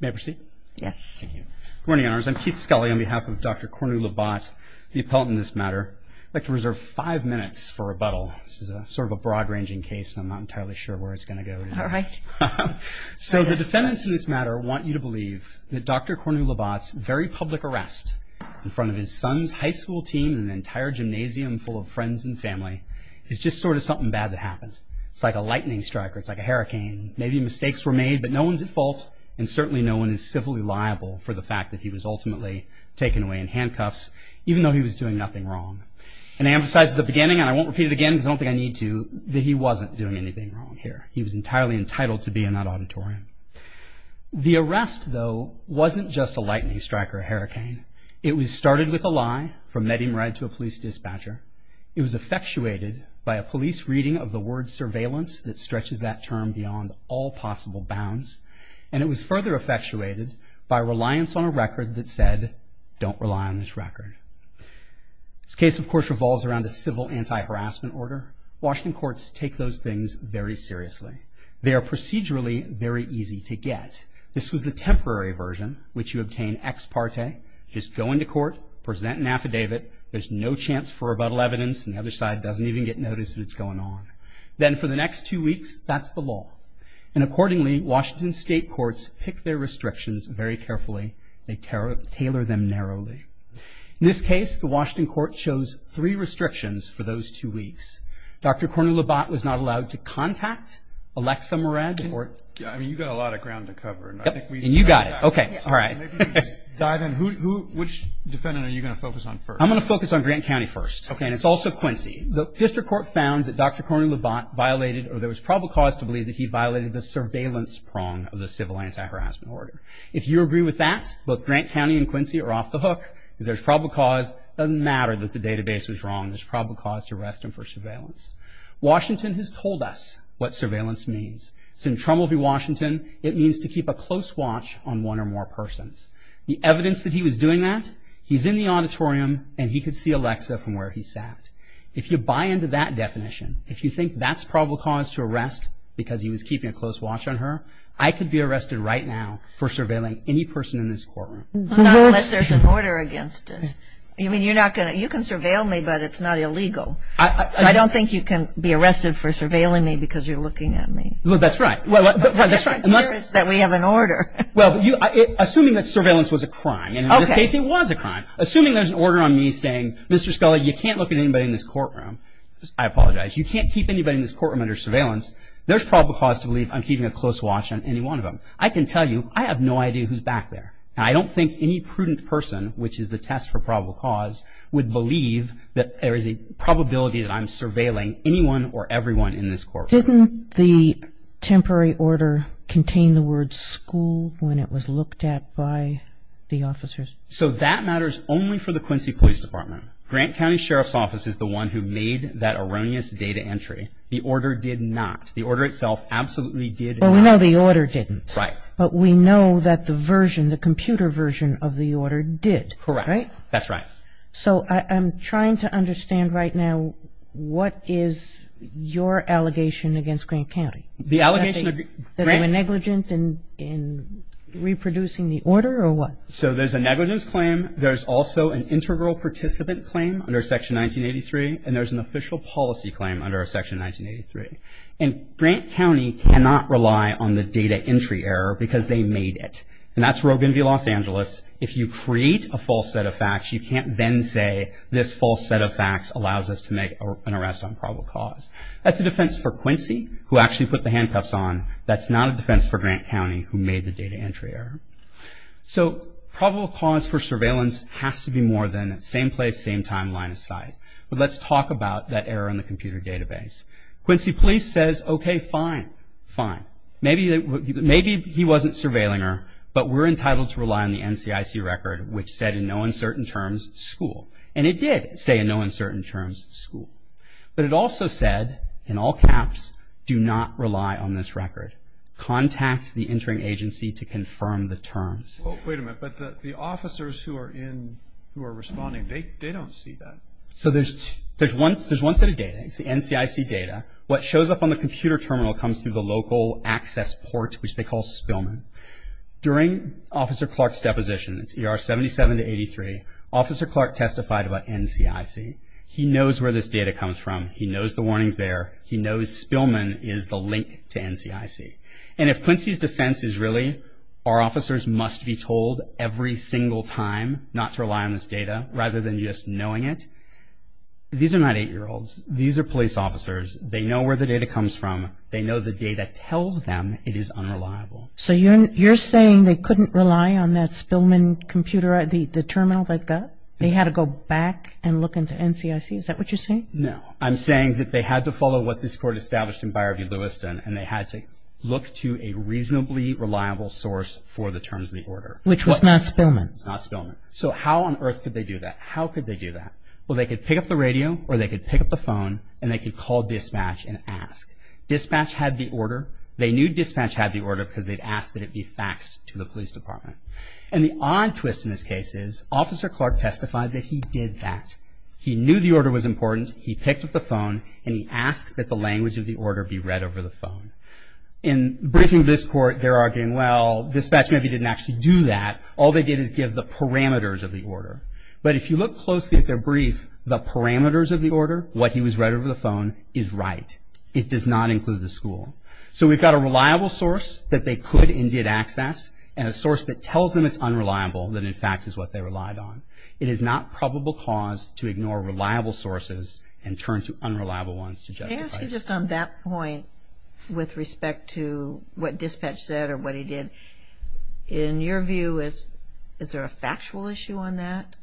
May I proceed? Yes. Thank you. Good morning, I'm Keith Scully on behalf of Dr. Cornu-Labat, the appellant in this matter. I'd like to reserve five minutes for rebuttal. This is a sort of a broad-ranging case and I'm not entirely sure where it's going to go. All right. So the defendants in this matter want you to believe that Dr. Cornu-Labat's very public arrest in front of his son's high school team and an entire gymnasium full of friends and family is just sort of something bad that happened. It's like a lightning strike or it's like a hurricane. Maybe mistakes were made but no one's at fault and certainly no one is civilly liable for the fact that he was ultimately taken away in handcuffs even though he was doing nothing wrong. And I emphasized at the beginning and I won't repeat it again because I don't think I need to that he wasn't doing anything wrong here. He was entirely entitled to be in that auditorium. The arrest though wasn't just a lightning strike or a hurricane. It was started with a lie from Mehdi Merred to a police dispatcher. It was effectuated by a police reading of the word surveillance that stretches that term beyond all possible bounds. And it was further effectuated by reliance on a record that said don't rely on this record. This case of course revolves around the civil anti-harassment order. Washington courts take those things very seriously. They are procedurally very easy to get. This was the temporary version which you obtain ex parte. Just go into court, present an affidavit. There's no chance for rebuttal evidence and the other side doesn't even get noticed that it's going on. Then for the next two weeks that's the law. And accordingly Washington state courts pick their restrictions very carefully. They tailor them narrowly. In this case the Washington court chose three restrictions for those two weeks. Dr. Cornelabotte was not allowed to contact Alexa Merred. I mean you've got a lot of ground to cover. And you got it. Okay all right. Dive in. Which defendant are you going to focus on first? I'm going to focus on Grant County first. Okay and it's also Quincy. The district court found that Dr. Cornelabotte violated or there was probable cause to believe that he violated the surveillance prong of the civil anti-harassment order. If you agree with that, both Grant County and Quincy are off the hook because there's probable cause. Doesn't matter that the database was wrong. There's probable cause to arrest him for surveillance. Washington has told us what surveillance means. It's in Trumbull v. Washington. It means to keep a close watch on one or more persons. The evidence that he was doing that, he's in the auditorium and he could see Alexa from where he sat. If you buy into that definition, if you think that's probable cause to arrest because he was keeping a close watch on her, I could be arrested right now for surveilling any person in this courtroom. Unless there's an order against it. I mean you're not going to, you can surveil me but it's not illegal. I don't think you can be arrested for surveilling me because you're looking at me. Well that's right. Unless that we have an order. Well assuming that surveillance was a crime and in this case it was a crime. Assuming there's an order on me saying Mr. Scully you can't look at anybody in this courtroom. I apologize. You can't keep anybody in this courtroom under surveillance. There's probable cause to believe I'm keeping a close watch on any one of them. I can tell you I have no idea who's back there. I don't think any prudent person, which is the test for probable cause, would believe that there is a probability that I'm surveilling anyone or everyone in this courtroom. Didn't the temporary order contain the word school when it was looked at by the officers? So that matters only for the Quincy Police Department. Grant County Sheriff's Office is the one who made that erroneous data entry. The order did not. The order itself absolutely did not. Well we know the order didn't. Right. But we know that the version, the computer version, of the order did. Correct. Right? That's right. So I'm trying to understand right now what is your allegation against Grant County? The allegation that they were negligent in reproducing the order or what? So there's a negligence claim. There's also an integral participant claim under Section 1983. And there's an official policy claim under Section 1983. And Grant County cannot rely on the data entry error because they made it. And that's Rogan v. Los Angeles. If you create a false set of facts, you can't then say this false set of facts allows us to make an arrest on probable cause. That's a defense for Quincy who actually put the handcuffs on. That's not a defense for Grant County who made the data entry error. So probable cause for surveillance has to be more than same place, same time, line of sight. But let's talk about that error in the computer database. Quincy Police says okay fine. Fine. Maybe he wasn't surveilling her, but we're entitled to rely on the NCIC record which said in no uncertain terms school. And it did say no uncertain terms school. But it also said in all caps do not rely on this record. Contact the entering agency to confirm the terms. Wait a minute. But the officers who are responding, they don't see that. So there's one set of data. It's the NCIC data. What shows up on the computer terminal comes through the local access port which they call Spillman. During Officer Clark's 77 to 83, Officer Clark testified about NCIC. He knows where this data comes from. He knows the warnings there. He knows Spillman is the link to NCIC. And if Quincy's defense is really our officers must be told every single time not to rely on this data rather than just knowing it, these are not eight-year-olds. These are police officers. They know where the data comes from. They know the data tells them it is unreliable. So you're saying they couldn't rely on that Spillman computer, the terminal they've got? They had to go back and look into NCIC? Is that what you're saying? No. I'm saying that they had to follow what this court established in Byard v. Lewiston and they had to look to a reasonably reliable source for the terms of the order. Which was not Spillman. Not Spillman. So how on earth could they do that? How could they do that? Well, they could pick up the radio or they could pick up the phone and they could call dispatch and ask. Dispatch had the order. They knew dispatch had the order because they'd asked that it be faxed to the police department. And the odd twist in this case is Officer Clark testified that he did that. He knew the order was important. He picked up the phone and he asked that the language of the order be read over the phone. In briefing this court, they're arguing, well, dispatch maybe didn't actually do that. All they did is give the parameters of the order. But if you look closely at their brief, the parameters of the order, what he was read over the phone, is right. It does not and a source that tells them it's unreliable that in fact is what they relied on. It is not probable cause to ignore reliable sources and turn to unreliable ones to justify it. Can I ask you just on that point with respect to what dispatch said or what he did, in your view, is there a factual issue on that?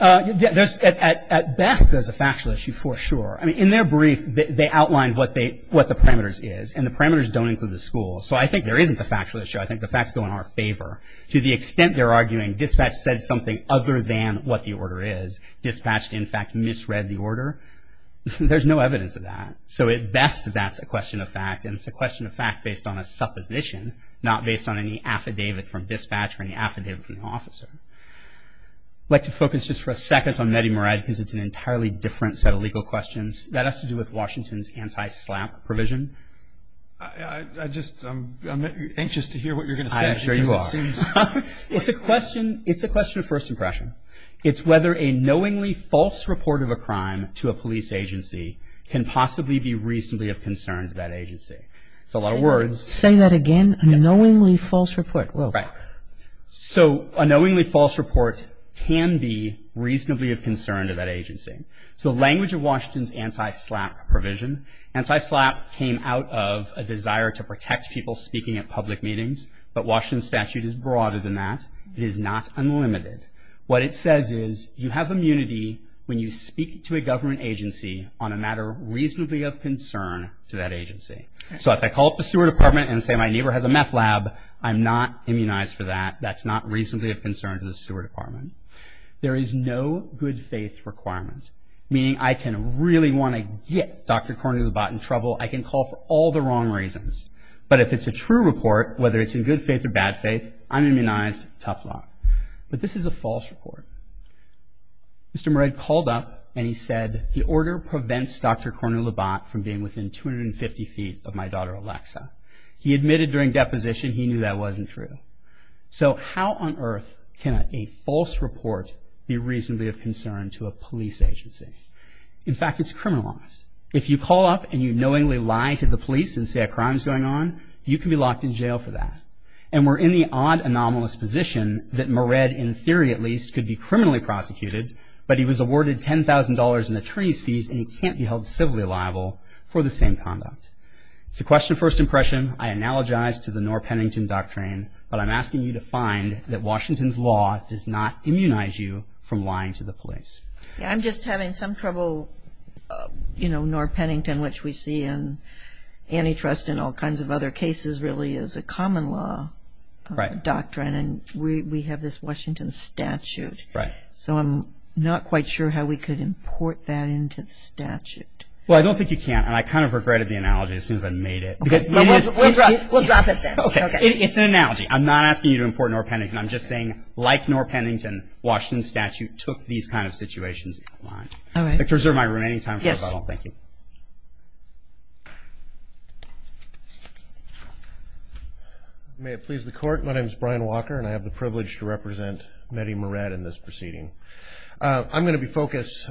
At best, there's a factual issue for sure. I mean, in their brief, they outlined what the parameters is. And the parameters don't include the schools. So I think there isn't a factual issue. I think the facts go in our favor. To the extent they're arguing dispatch said something other than what the order is. Dispatch, in fact, misread the order. There's no evidence of that. So at best, that's a question of fact. And it's a question of fact based on a supposition, not based on any affidavit from dispatch or any affidavit from the officer. I'd like to focus just for a second on Nettie Morad because it's an entirely different set of legal questions that has to do with Washington's anti-SLAPP provision. I'm anxious to hear what you're going to say. I'm sure you are. It's a question of first impression. It's whether a knowingly false report of a crime to a police agency can possibly be reasonably of concern to that agency. It's a lot of words. Say that again. A knowingly false report. Right. So a knowingly false report can be reasonably of concern to that agency. So language of Washington's anti-SLAPP provision. Anti-SLAPP came out of a desire to protect people speaking at public meetings. But Washington's statute is broader than that. It is not unlimited. What it says is you have immunity when you speak to a government agency on a matter reasonably of concern to that agency. So if I call up the sewer department and say my neighbor has a meth lab, I'm not immunized for that. That's not reasonably of concern to the sewer department. There is no good faith requirement. Meaning I can really want to get Dr. Cornelabotte in trouble. I can call for all the wrong reasons. But if it's a true report, whether it's in good faith or bad faith, I'm immunized. Tough luck. But this is a false report. Mr. Moret called up and he said the order prevents Dr. Cornelabotte from being within 250 feet of my daughter Alexa. He admitted during deposition he knew that wasn't true. So how on earth can a false report be reasonably of concern to a police agency? In fact, it's criminalized. If you call up and you knowingly lie to the police and say a crime is going on, you can be locked in jail for that. And we're in the odd anomalous position that Moret, in theory at least, could be criminally prosecuted, but he was awarded $10,000 in attorney's fees and he can't be held civilly liable for the same conduct. It's a question of first impression. I analogize to the Knorr-Pennington doctrine, but I'm asking you to find that Washington's law does not immunize you from lying to the police. I'm just having some trouble, you know, Knorr-Pennington, which we see in antitrust and all kinds of other cases, really is a common law doctrine. And we have this Washington statute. So I'm not quite sure how we could import that into the statute. Well, I don't think you can. And I kind of regretted the analogy as soon as I made it. We'll drop it then. It's an analogy. I'm not asking you to import Knorr-Pennington. I'm just saying, like Knorr-Pennington, Washington's statute took these kind of situations in line. All right. I reserve my remaining time for rebuttal. Thank you. May it please the court. My name is Brian Walker, and I have the privilege to represent Mehdi Moret in this proceeding. I'm going to be focused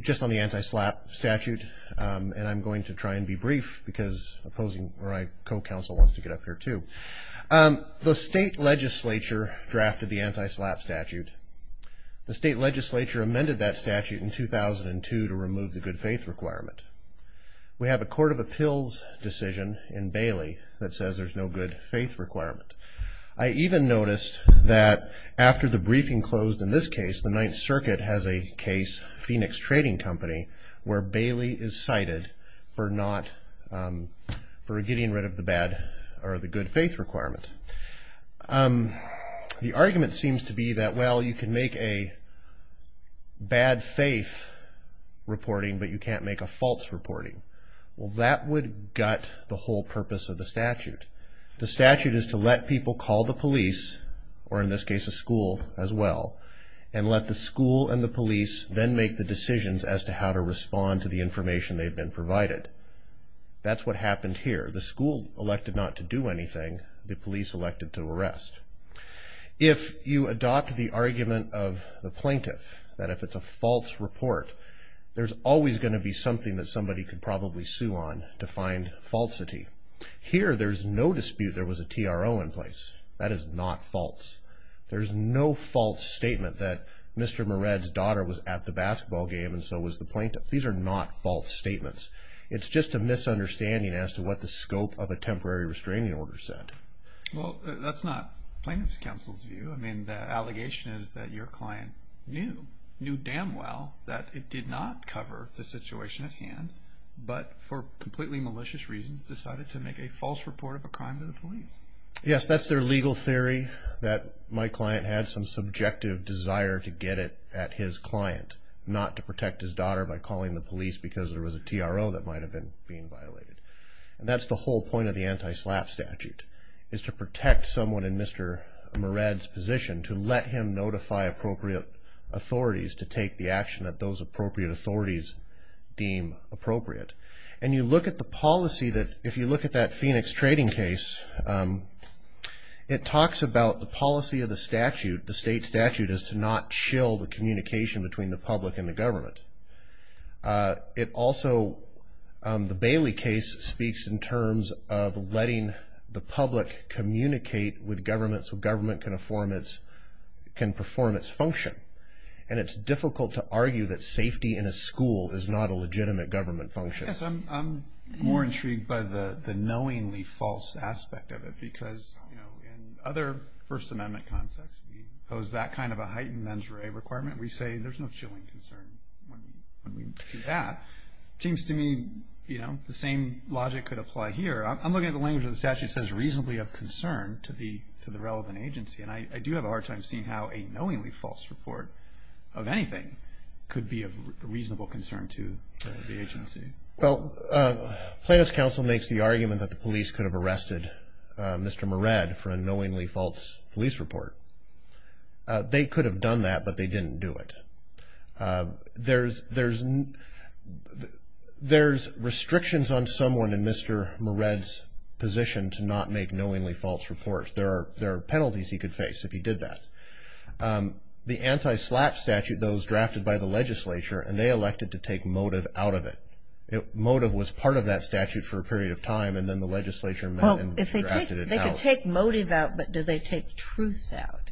just on the anti-SLAPP statute, and I'm going to try and be brief because opposing my co-counsel wants to get up here too. The state legislature drafted the anti-SLAPP statute. The state legislature amended that statute in 2002 to remove the good faith requirement. We have a court of appeals decision in Bailey that says there's no good faith requirement. I even noticed that after the briefing closed in this case, the Ninth Circuit has a case, Phoenix Trading Company, where Bailey is cited for getting rid of the good faith requirement. The argument seems to be that, well, you can make a bad faith reporting, but you can't make a false reporting. Well, that would gut the whole purpose of the statute. The statute is to let people call the police, or in this case, a school as well, and let the school and the police then make the decisions as to how to respond to the information they've been provided. That's what happened here. The school elected not to do anything. The police elected to arrest. If you adopt the argument of the plaintiff that if it's a false report, there's always going to be something that somebody could probably sue on to find falsity. Here, there's no dispute there was a TRO in place. That is not false. There's no false statement that Mr. Moret's daughter was at the basketball game, and so was the plaintiff. These are not false statements. It's just a misunderstanding as to what the scope of a temporary restraining order said. Well, that's not plaintiff's counsel's view. I mean, the allegation is that your client knew, knew damn well that it did not cover the situation at hand, but for completely malicious reasons decided to make a false report of a crime to the police. Yes, that's their legal theory, that my client had some subjective desire to get it at his client, not to protect his daughter by calling the police because there was a TRO that might have been being violated. And that's the whole point of the anti-SLAPP statute, is to protect someone in Mr. Moret's position, to let him notify appropriate authorities to take the action that those appropriate authorities deem appropriate. And you look at the policy that if you look at that Phoenix trading case, it talks about the policy of the statute, the state statute is to not chill the communication between the public and the government. It also, the Bailey case speaks in terms of letting the public communicate with government, so government can perform its function. And it's difficult to argue that safety in a school is not a legitimate government function. Yes, I'm more intrigued by the knowingly false aspect of it, because, you know, in other First Amendment contexts, we pose that kind of a heightened mens rea requirement. We say there's no chilling concern when we do that. It seems to me, you know, the same logic could apply here. I'm looking at the language of the statute says reasonably of concern to the relevant agency. And I do have a hard time seeing how a knowingly false report of anything could be of reasonable concern to the agency. Well, Plaintiff's counsel makes the argument that the police could have arrested Mr. Moret for a knowingly false police report. They could have done that, but they didn't do it. There's restrictions on someone in Mr. Moret's position to not make knowingly false reports. There are penalties he could face if he did that. The anti-slap statute, though, was drafted by the legislature, and they elected to take motive out of it. Motive was part of that statute for a period of time, and then the legislature met and drafted it out. They could take motive out, but did they take truth out?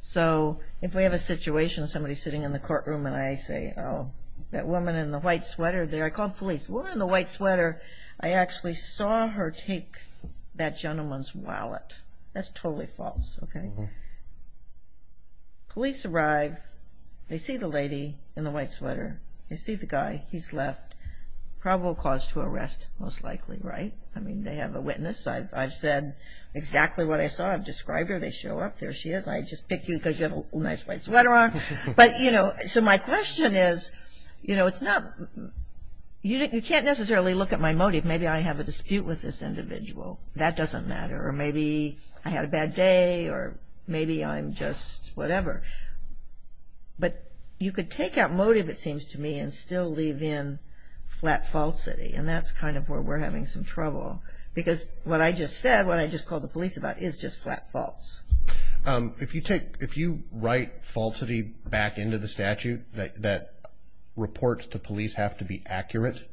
So if we have a situation of somebody sitting in the courtroom and I say, oh, that woman in the white sweater there, I called police. The woman in the white sweater, I actually saw her take that gentleman's wallet. That's totally false, okay? Police arrive. They see the lady in the white sweater. They see the guy. He's left probable cause to arrest, most likely, right? I mean, they have a witness. I've said exactly what I saw. I've described her. They show up. There she is. I just pick you because you have a nice white sweater on. But, you know, so my question is, you know, it's not you can't necessarily look at my motive. Maybe I have a dispute with this individual. That doesn't matter. Or maybe I had a bad day, or maybe I'm just whatever. But you could take out motive, it seems to me, and still leave in flat falsity. And that's kind of where we're having some trouble. Because what I just said, what I just called the police about, is just flat false. If you take, if you write falsity back into the statute that reports to police have to be accurate,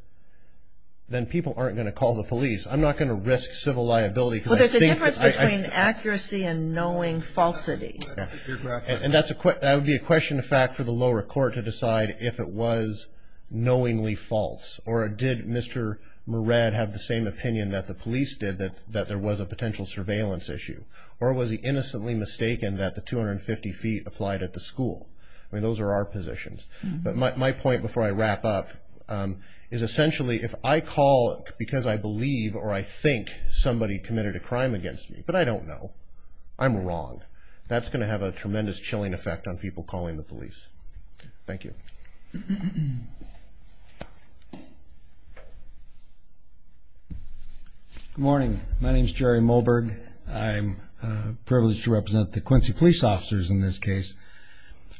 then people aren't going to call the police. I'm not going to risk civil liability because I think... Well, there's a difference between accuracy and knowing falsity. Yeah, you're correct. And that would be a question, in fact, for the lower court to decide if it was knowingly false. Or did Mr. Moret have the same opinion that the police did, that there was a potential surveillance issue? Or was he innocently mistaken that the 250 feet applied at the school? I mean, those are our positions. But my point, before I wrap up, is essentially if I call because I believe, or I think somebody committed a crime against me, but I don't know, I'm wrong. That's going to have a tremendous chilling effect on people calling the police. Thank you. Good morning. My name is Jerry Mulberg. I'm privileged to represent the Quincy police officers in this case.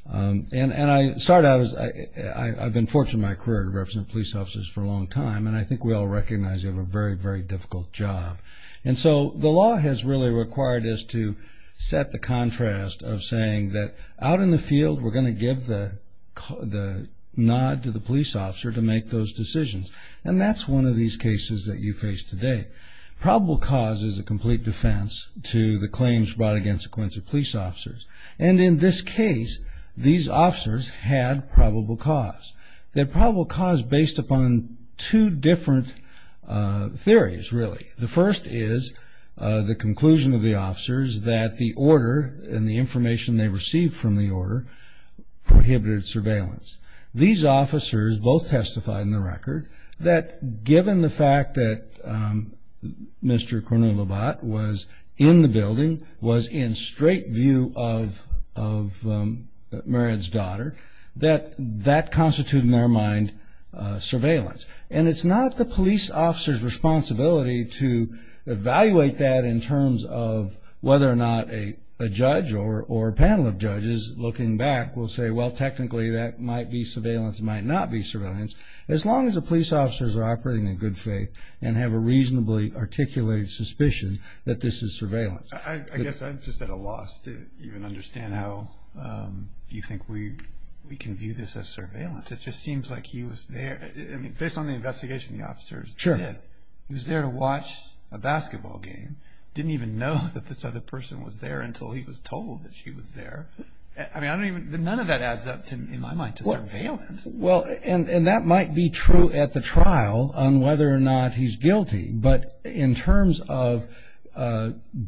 And I started out as, I've been fortunate in my career to represent police officers for a long time. And I think we all recognize you have a very, very difficult job. And so the law has really required us to set the contrast of saying that out in the field, we're going to give the nod to the police officer to make those decisions. And that's one of these cases that you face today. Probable cause is a complete defense to the claims brought against Quincy police officers. And in this case, these officers had probable cause. They had probable cause based upon two different theories, really. The first is the conclusion of the officers that the order and the information they received from the order prohibited surveillance. These officers both testified in the record that given the fact that Mr. Cornelobot was in the building, was in straight view of Marriott's daughter, that that constituted in their mind surveillance. And it's not the police officer's responsibility to evaluate that in terms of whether or not a judge or a panel of judges looking back will say, well, technically, that might be surveillance, might not be surveillance. As long as the police officers are operating in good faith and have a reasonably articulated suspicion that this is surveillance. I guess I'm just at a loss to even understand how you think we can view this as surveillance. It just seems like he was there. I mean, based on the investigation the officers did, he was there to watch a basketball game, didn't even know that this other person was there until he was told that she was there. I mean, I don't even, none of that adds up in my mind to surveillance. Well, and that might be true at the trial on whether or not he's guilty. But in terms of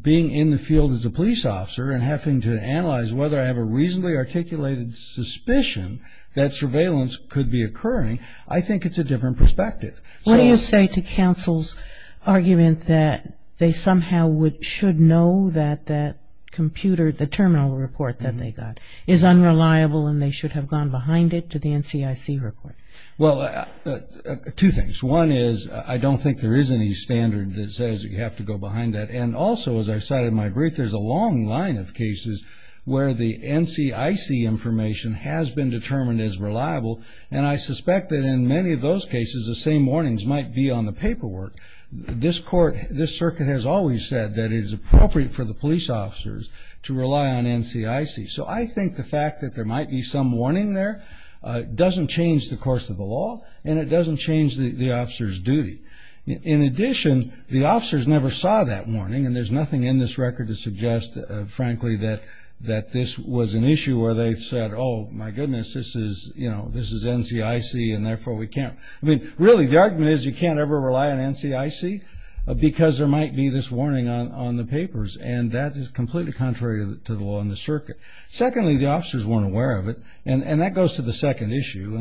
being in the field as a police officer and having to analyze whether I have a reasonably articulated suspicion that surveillance could be occurring, I think it's a different perspective. What do you say to counsel's argument that they somehow should know that that computer, the terminal report that they got, is unreliable and they should have gone behind it to the NCIC report? Well, two things. One is I don't think there is any standard that says you have to go behind that. And also, as I cited in my brief, there's a long line of cases where the NCIC information has been determined as reliable, and I suspect that in many of those cases the same warnings might be on the paperwork. This court, this circuit has always said that it is appropriate for the police officers to rely on NCIC. So I think the fact that there might be some warning there doesn't change the course of the law, and it doesn't change the officer's duty. In addition, the officers never saw that warning, and there's nothing in this record to suggest, frankly, that this was an issue where they said, oh, my goodness, this is, you know, this is NCIC, and therefore we can't. I mean, really, the argument is you can't ever rely on NCIC because there might be this warning on the papers, and that is completely contrary to the law in the circuit. Secondly, the officers weren't aware of it, and that goes to the second issue,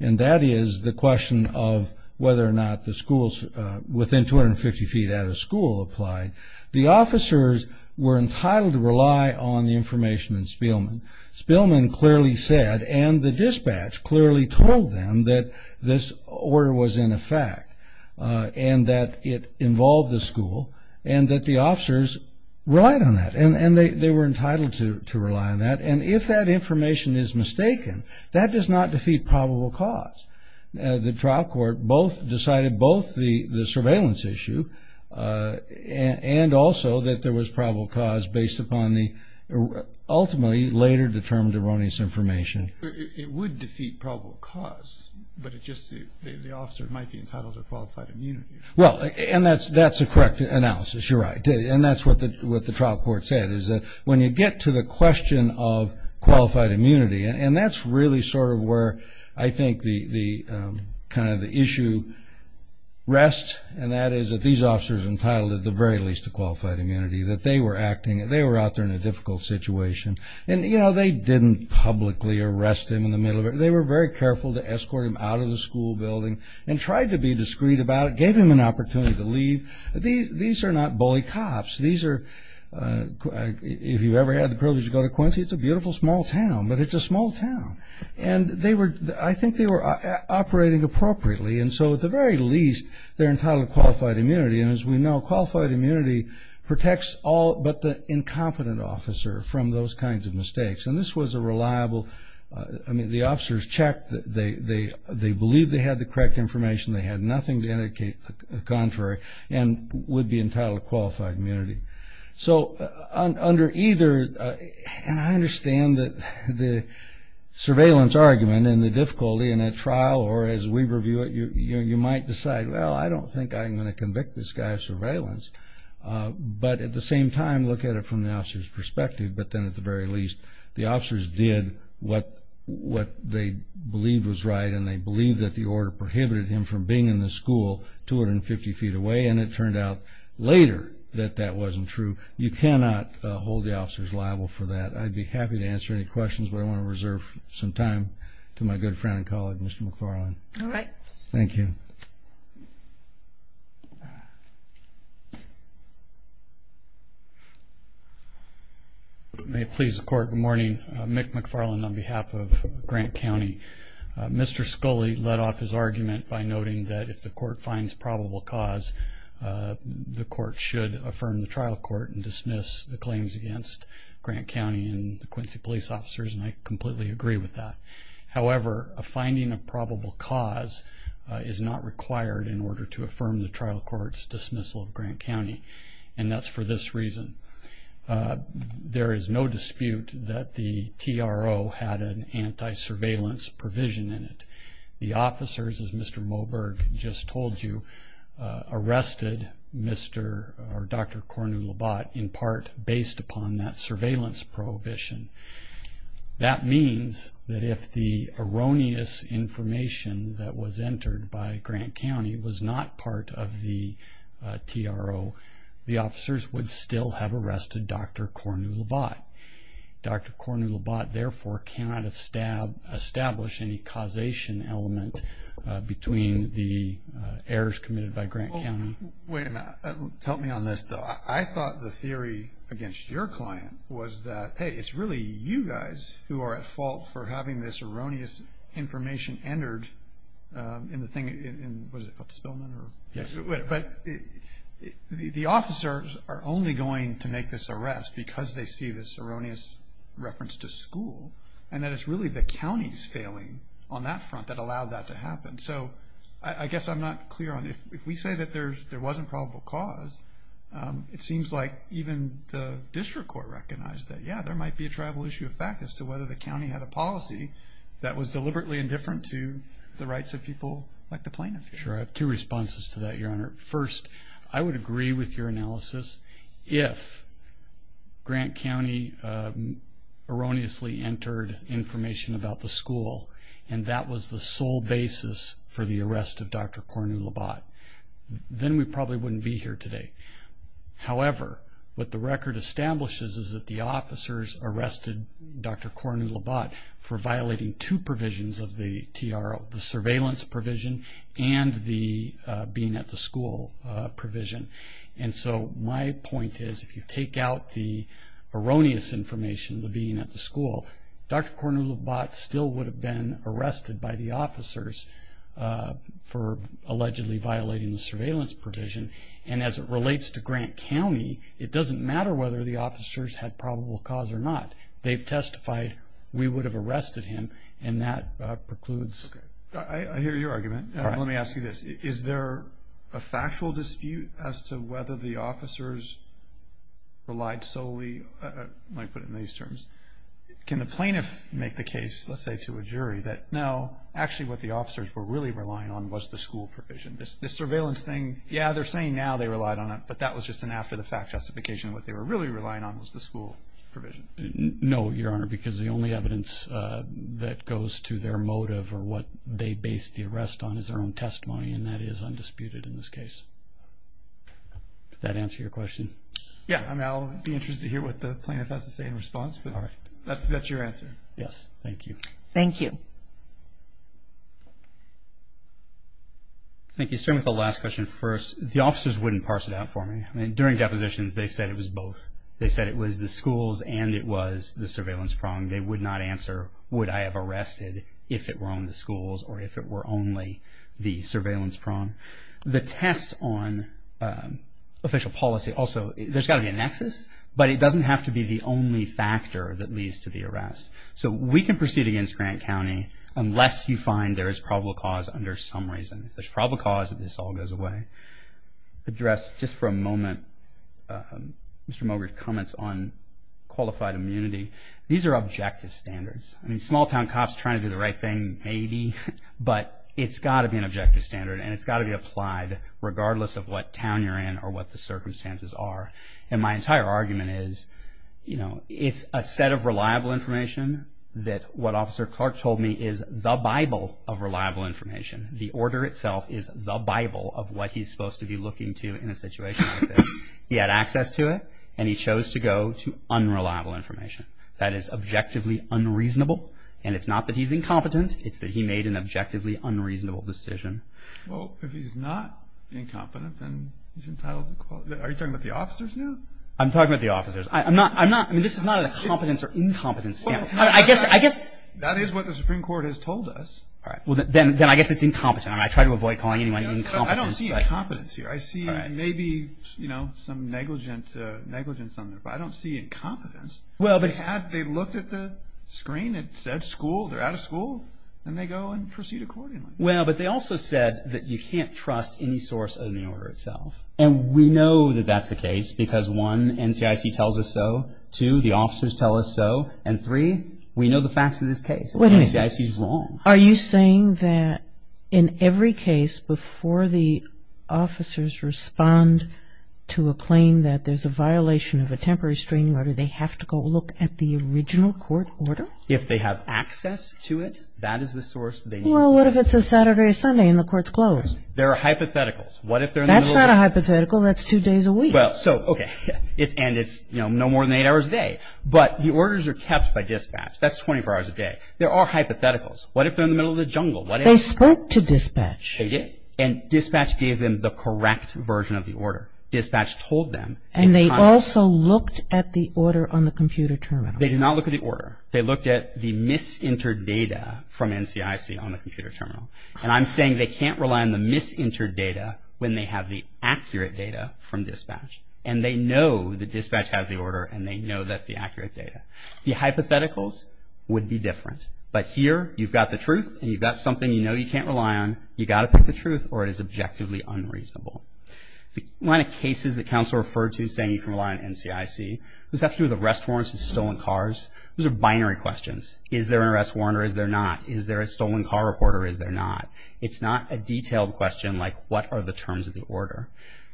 and that is the question of whether or not the schools within 250 feet out of school applied. The officers were entitled to rely on the information in Spielman. Spielman clearly said, and the dispatch clearly told them that this order was in effect, and that it involved the school, and that the officers relied on that, and they were entitled to rely on that. And if that information is mistaken, that does not defeat probable cause. The trial court both decided, both the surveillance issue and also that there was probable cause based upon the ultimately later determined erroneous information. It would defeat probable cause, but it just, the officer might be entitled to qualified immunity. Well, and that's a correct analysis, you're right, and that's what the trial court said, is that when you get to the question of qualified immunity, and that's really sort of where I think the, kind of the issue rests, and that is that these officers are entitled at the very least to qualified immunity. That they were acting, they were out there in a difficult situation, and you know, they didn't publicly arrest him in the middle of it. They were very careful to escort him out of the school building, and tried to be discreet about it, gave him an opportunity to leave. These are not bully cops. These are, if you've ever had the privilege to go to Quincy, it's a beautiful small town, but it's a small town. And they were, I think they were operating appropriately, and so at the very least, they're entitled to qualified immunity, and as we know, qualified immunity protects all but the incompetent officer from those kinds of mistakes, and this was a reliable, I mean, the officers checked, they believed they had the correct information, they had nothing to indicate the contrary, and would be entitled to qualified immunity. So under either, and I understand that the surveillance argument and the difficulty in a trial, or as we review it, you might decide, well, I don't think I'm going to convict this guy of surveillance, but at the same time, look at it from the officer's perspective. But then at the very least, the officers did what they believed was right, and they believed that the order prohibited him from being in the school 250 feet away, and it turned out later that that wasn't true. You cannot hold the officers liable for that. I'd be happy to answer any questions, but I want to reserve some time to my good friend and colleague, Mr. McFarland. All right. Thank you. May it please the court, good morning. Mick McFarland on behalf of Grant County. Mr. Scully led off his argument by noting that if the court finds probable cause, the court should affirm the trial court and dismiss the claims against Grant County and the Quincy police officers, and I completely agree with that. However, a finding of probable cause is not required in order to affirm the trial court's dismissal of Grant County, and that's for this reason. There is no dispute that the TRO had an anti-surveillance provision in it. The officers, as Mr. Moberg just told you, arrested Mr. or Dr. Cornu Labat in part based upon that surveillance prohibition. That means that if the erroneous information that was entered by Grant County was not part of the TRO, the officers would still have arrested Dr. Cornu Labat. Dr. Cornu Labat, therefore, cannot establish any causation element between the errors committed by Grant County. Wait a minute. Help me on this, though. I thought the theory against your client was that, hey, it's really you guys who are at fault for having this erroneous information entered in the thing in, what is it, Spillman or? But the officers are only going to make this arrest because they see this erroneous reference to school, and that it's really the county's failing on that front that allowed that to happen. So I guess I'm not clear on, if we say that there wasn't probable cause, it seems like even the district court recognized that, yeah, there might be a tribal issue of fact as to whether the county had a policy that was deliberately indifferent to the rights of people like the plaintiff here. Sure. I have two responses to that, Your Honor. First, I would agree with your analysis if Grant County erroneously entered information about the school, and that was the sole basis for the arrest of Dr. Cornu Labat, then we probably wouldn't be here today. However, what the record establishes is that the officers arrested Dr. Cornu Labat for violating two provisions of the TRO, the surveillance provision and the being at the school provision. And so my point is, if you take out the erroneous information, the being at the school, Dr. Cornu Labat still would have been arrested by the officers for allegedly violating the surveillance provision. And as it relates to Grant County, it doesn't matter whether the officers had probable cause or not, they've testified, we would have arrested him, and that precludes. I hear your argument. Let me ask you this. Is there a factual dispute as to whether the officers relied solely, I might put it in these terms, can the plaintiff make the case, let's say to a jury, that no, actually what the officers were really relying on was the school provision? This surveillance thing, yeah, they're saying now they relied on it, but that was just an after-the-fact justification. What they were really relying on was the school provision. No, Your Honor, because the only evidence that goes to their motive or what they based the arrest on is their own testimony, and that is undisputed in this case. Did that answer your question? Yeah, I mean, I'll be interested to hear what the plaintiff has to say in response, but that's your answer. Yes, thank you. Thank you. Thank you. Starting with the last question first, the officers wouldn't parse it out for me. I mean, during depositions, they said it was both. They said it was the schools and it was the surveillance prong. They would not answer, would I have arrested if it were on the schools or if it were only the surveillance prong. The test on official policy also, there's got to be a nexus, but it doesn't have to be the only factor that leads to the arrest. So we can proceed against Grant County unless you find there is probable cause under some reason. If there's probable cause, then this all goes away. Address, just for a moment, Mr. Mogard comments on qualified immunity. These are objective standards. I mean, small town cops trying to do the right thing, maybe, but it's got to be an objective standard and it's got to be applied regardless of what town you're in or what the circumstances are. And my entire argument is, you know, it's a set of reliable information that what Officer Clark told me is the Bible of reliable information. The order itself is the Bible of what he's supposed to be looking to in a situation like this. He had access to it and he chose to go to unreliable information. That is objectively unreasonable and it's not that he's incompetent, it's that he made an objectively unreasonable decision. Well, if he's not incompetent, then he's entitled to, are you talking about the officers now? I'm talking about the officers. I'm not, I'm not, I mean, this is not a competence or incompetence, I guess, I guess. That is what the Supreme Court has told us. All right. Well, then, then I guess it's incompetent and I try to avoid calling anyone incompetent. I don't see incompetence here. I see, maybe, you know, some negligence, negligence on there, but I don't see incompetence. Well, but... They had, they looked at the screen, it said school, they're out of school, and they go and proceed accordingly. Well, but they also said that you can't trust any source of the order itself. And we know that that's the case because, one, NCIC tells us so. Two, the officers tell us so. And three, we know the facts of this case. Wait a minute. NCIC's wrong. Are you saying that in every case before the officers respond to a claim that there's a violation of a temporary screening order, they have to go look at the original court order? If they have access to it, that is the source they need to look at. Well, what if it's a Saturday or Sunday and the court's closed? There are hypotheticals. What if they're in the middle of... That's not a hypothetical. That's two days a week. Well, so, okay. It's, and it's, you know, no more than eight hours a day. But the orders are kept by dispatch. That's 24 hours a day. There are hypotheticals. What if they're in the middle of the jungle? They spoke to dispatch. They did. And dispatch gave them the correct version of the order. Dispatch told them. And they also looked at the order on the computer terminal. They did not look at the order. They looked at the mis-entered data from NCIC on the computer terminal. And I'm saying they can't rely on the mis-entered data when they have the accurate data from dispatch. And they know that dispatch has the order and they know that's the accurate data. The hypotheticals would be different. But here you've got the truth and you've got something you know you can't rely on. You've got to pick the truth or it is objectively unreasonable. The line of cases that counsel referred to saying you can rely on NCIC was actually with arrest warrants and stolen cars. Those are binary questions. Is there an arrest warrant or is there not? Is there a stolen car report or is there not? It's not a detailed question like what are the terms of the order?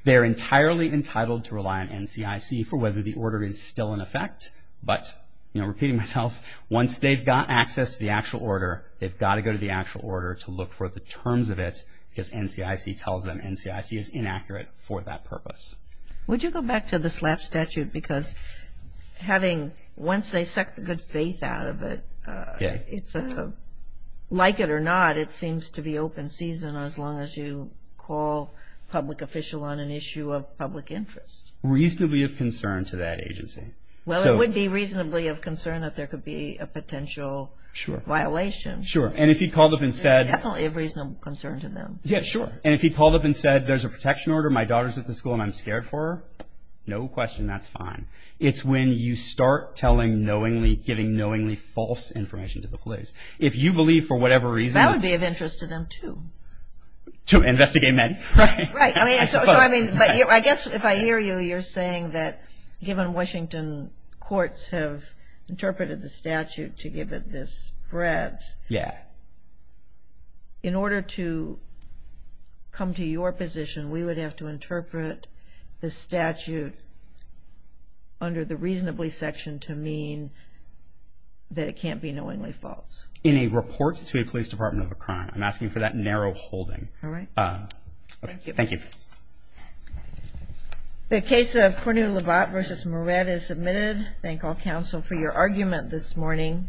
They're entirely entitled to rely on NCIC for whether the order is still in effect. But, you know, repeating myself, once they've got access to the actual order, they've got to go to the actual order to look for the terms of it because NCIC tells them NCIC is inaccurate for that purpose. Would you go back to the SLAP statute because having, once they suck the good faith out of it, like it or not, it seems to be open season as long as you call public official on an issue of public interest. Reasonably of concern to that agency. Well, it would be reasonably of concern that there could be a potential violation. Sure. And if he called up and said... Definitely a reasonable concern to them. Yeah, sure. And if he called up and said, there's a protection order, my daughter's at the school and I'm scared for her, no question, that's fine. It's when you start telling knowingly, giving knowingly false information to the police. If you believe for whatever reason... That would be of interest to them too. To investigate men. Right. I mean, so I mean, but I guess if I hear you, you're saying that given Washington courts have interpreted the statute to give it this breadth, in order to come to your position, we would have to interpret the statute under the reasonably section to mean that it can't be knowingly false. In a report to a police department of a crime, I'm asking for that narrow holding. All right. Thank you. Thank you. The case of Cornelovat v. Moret is submitted. Thank all counsel for your argument this morning.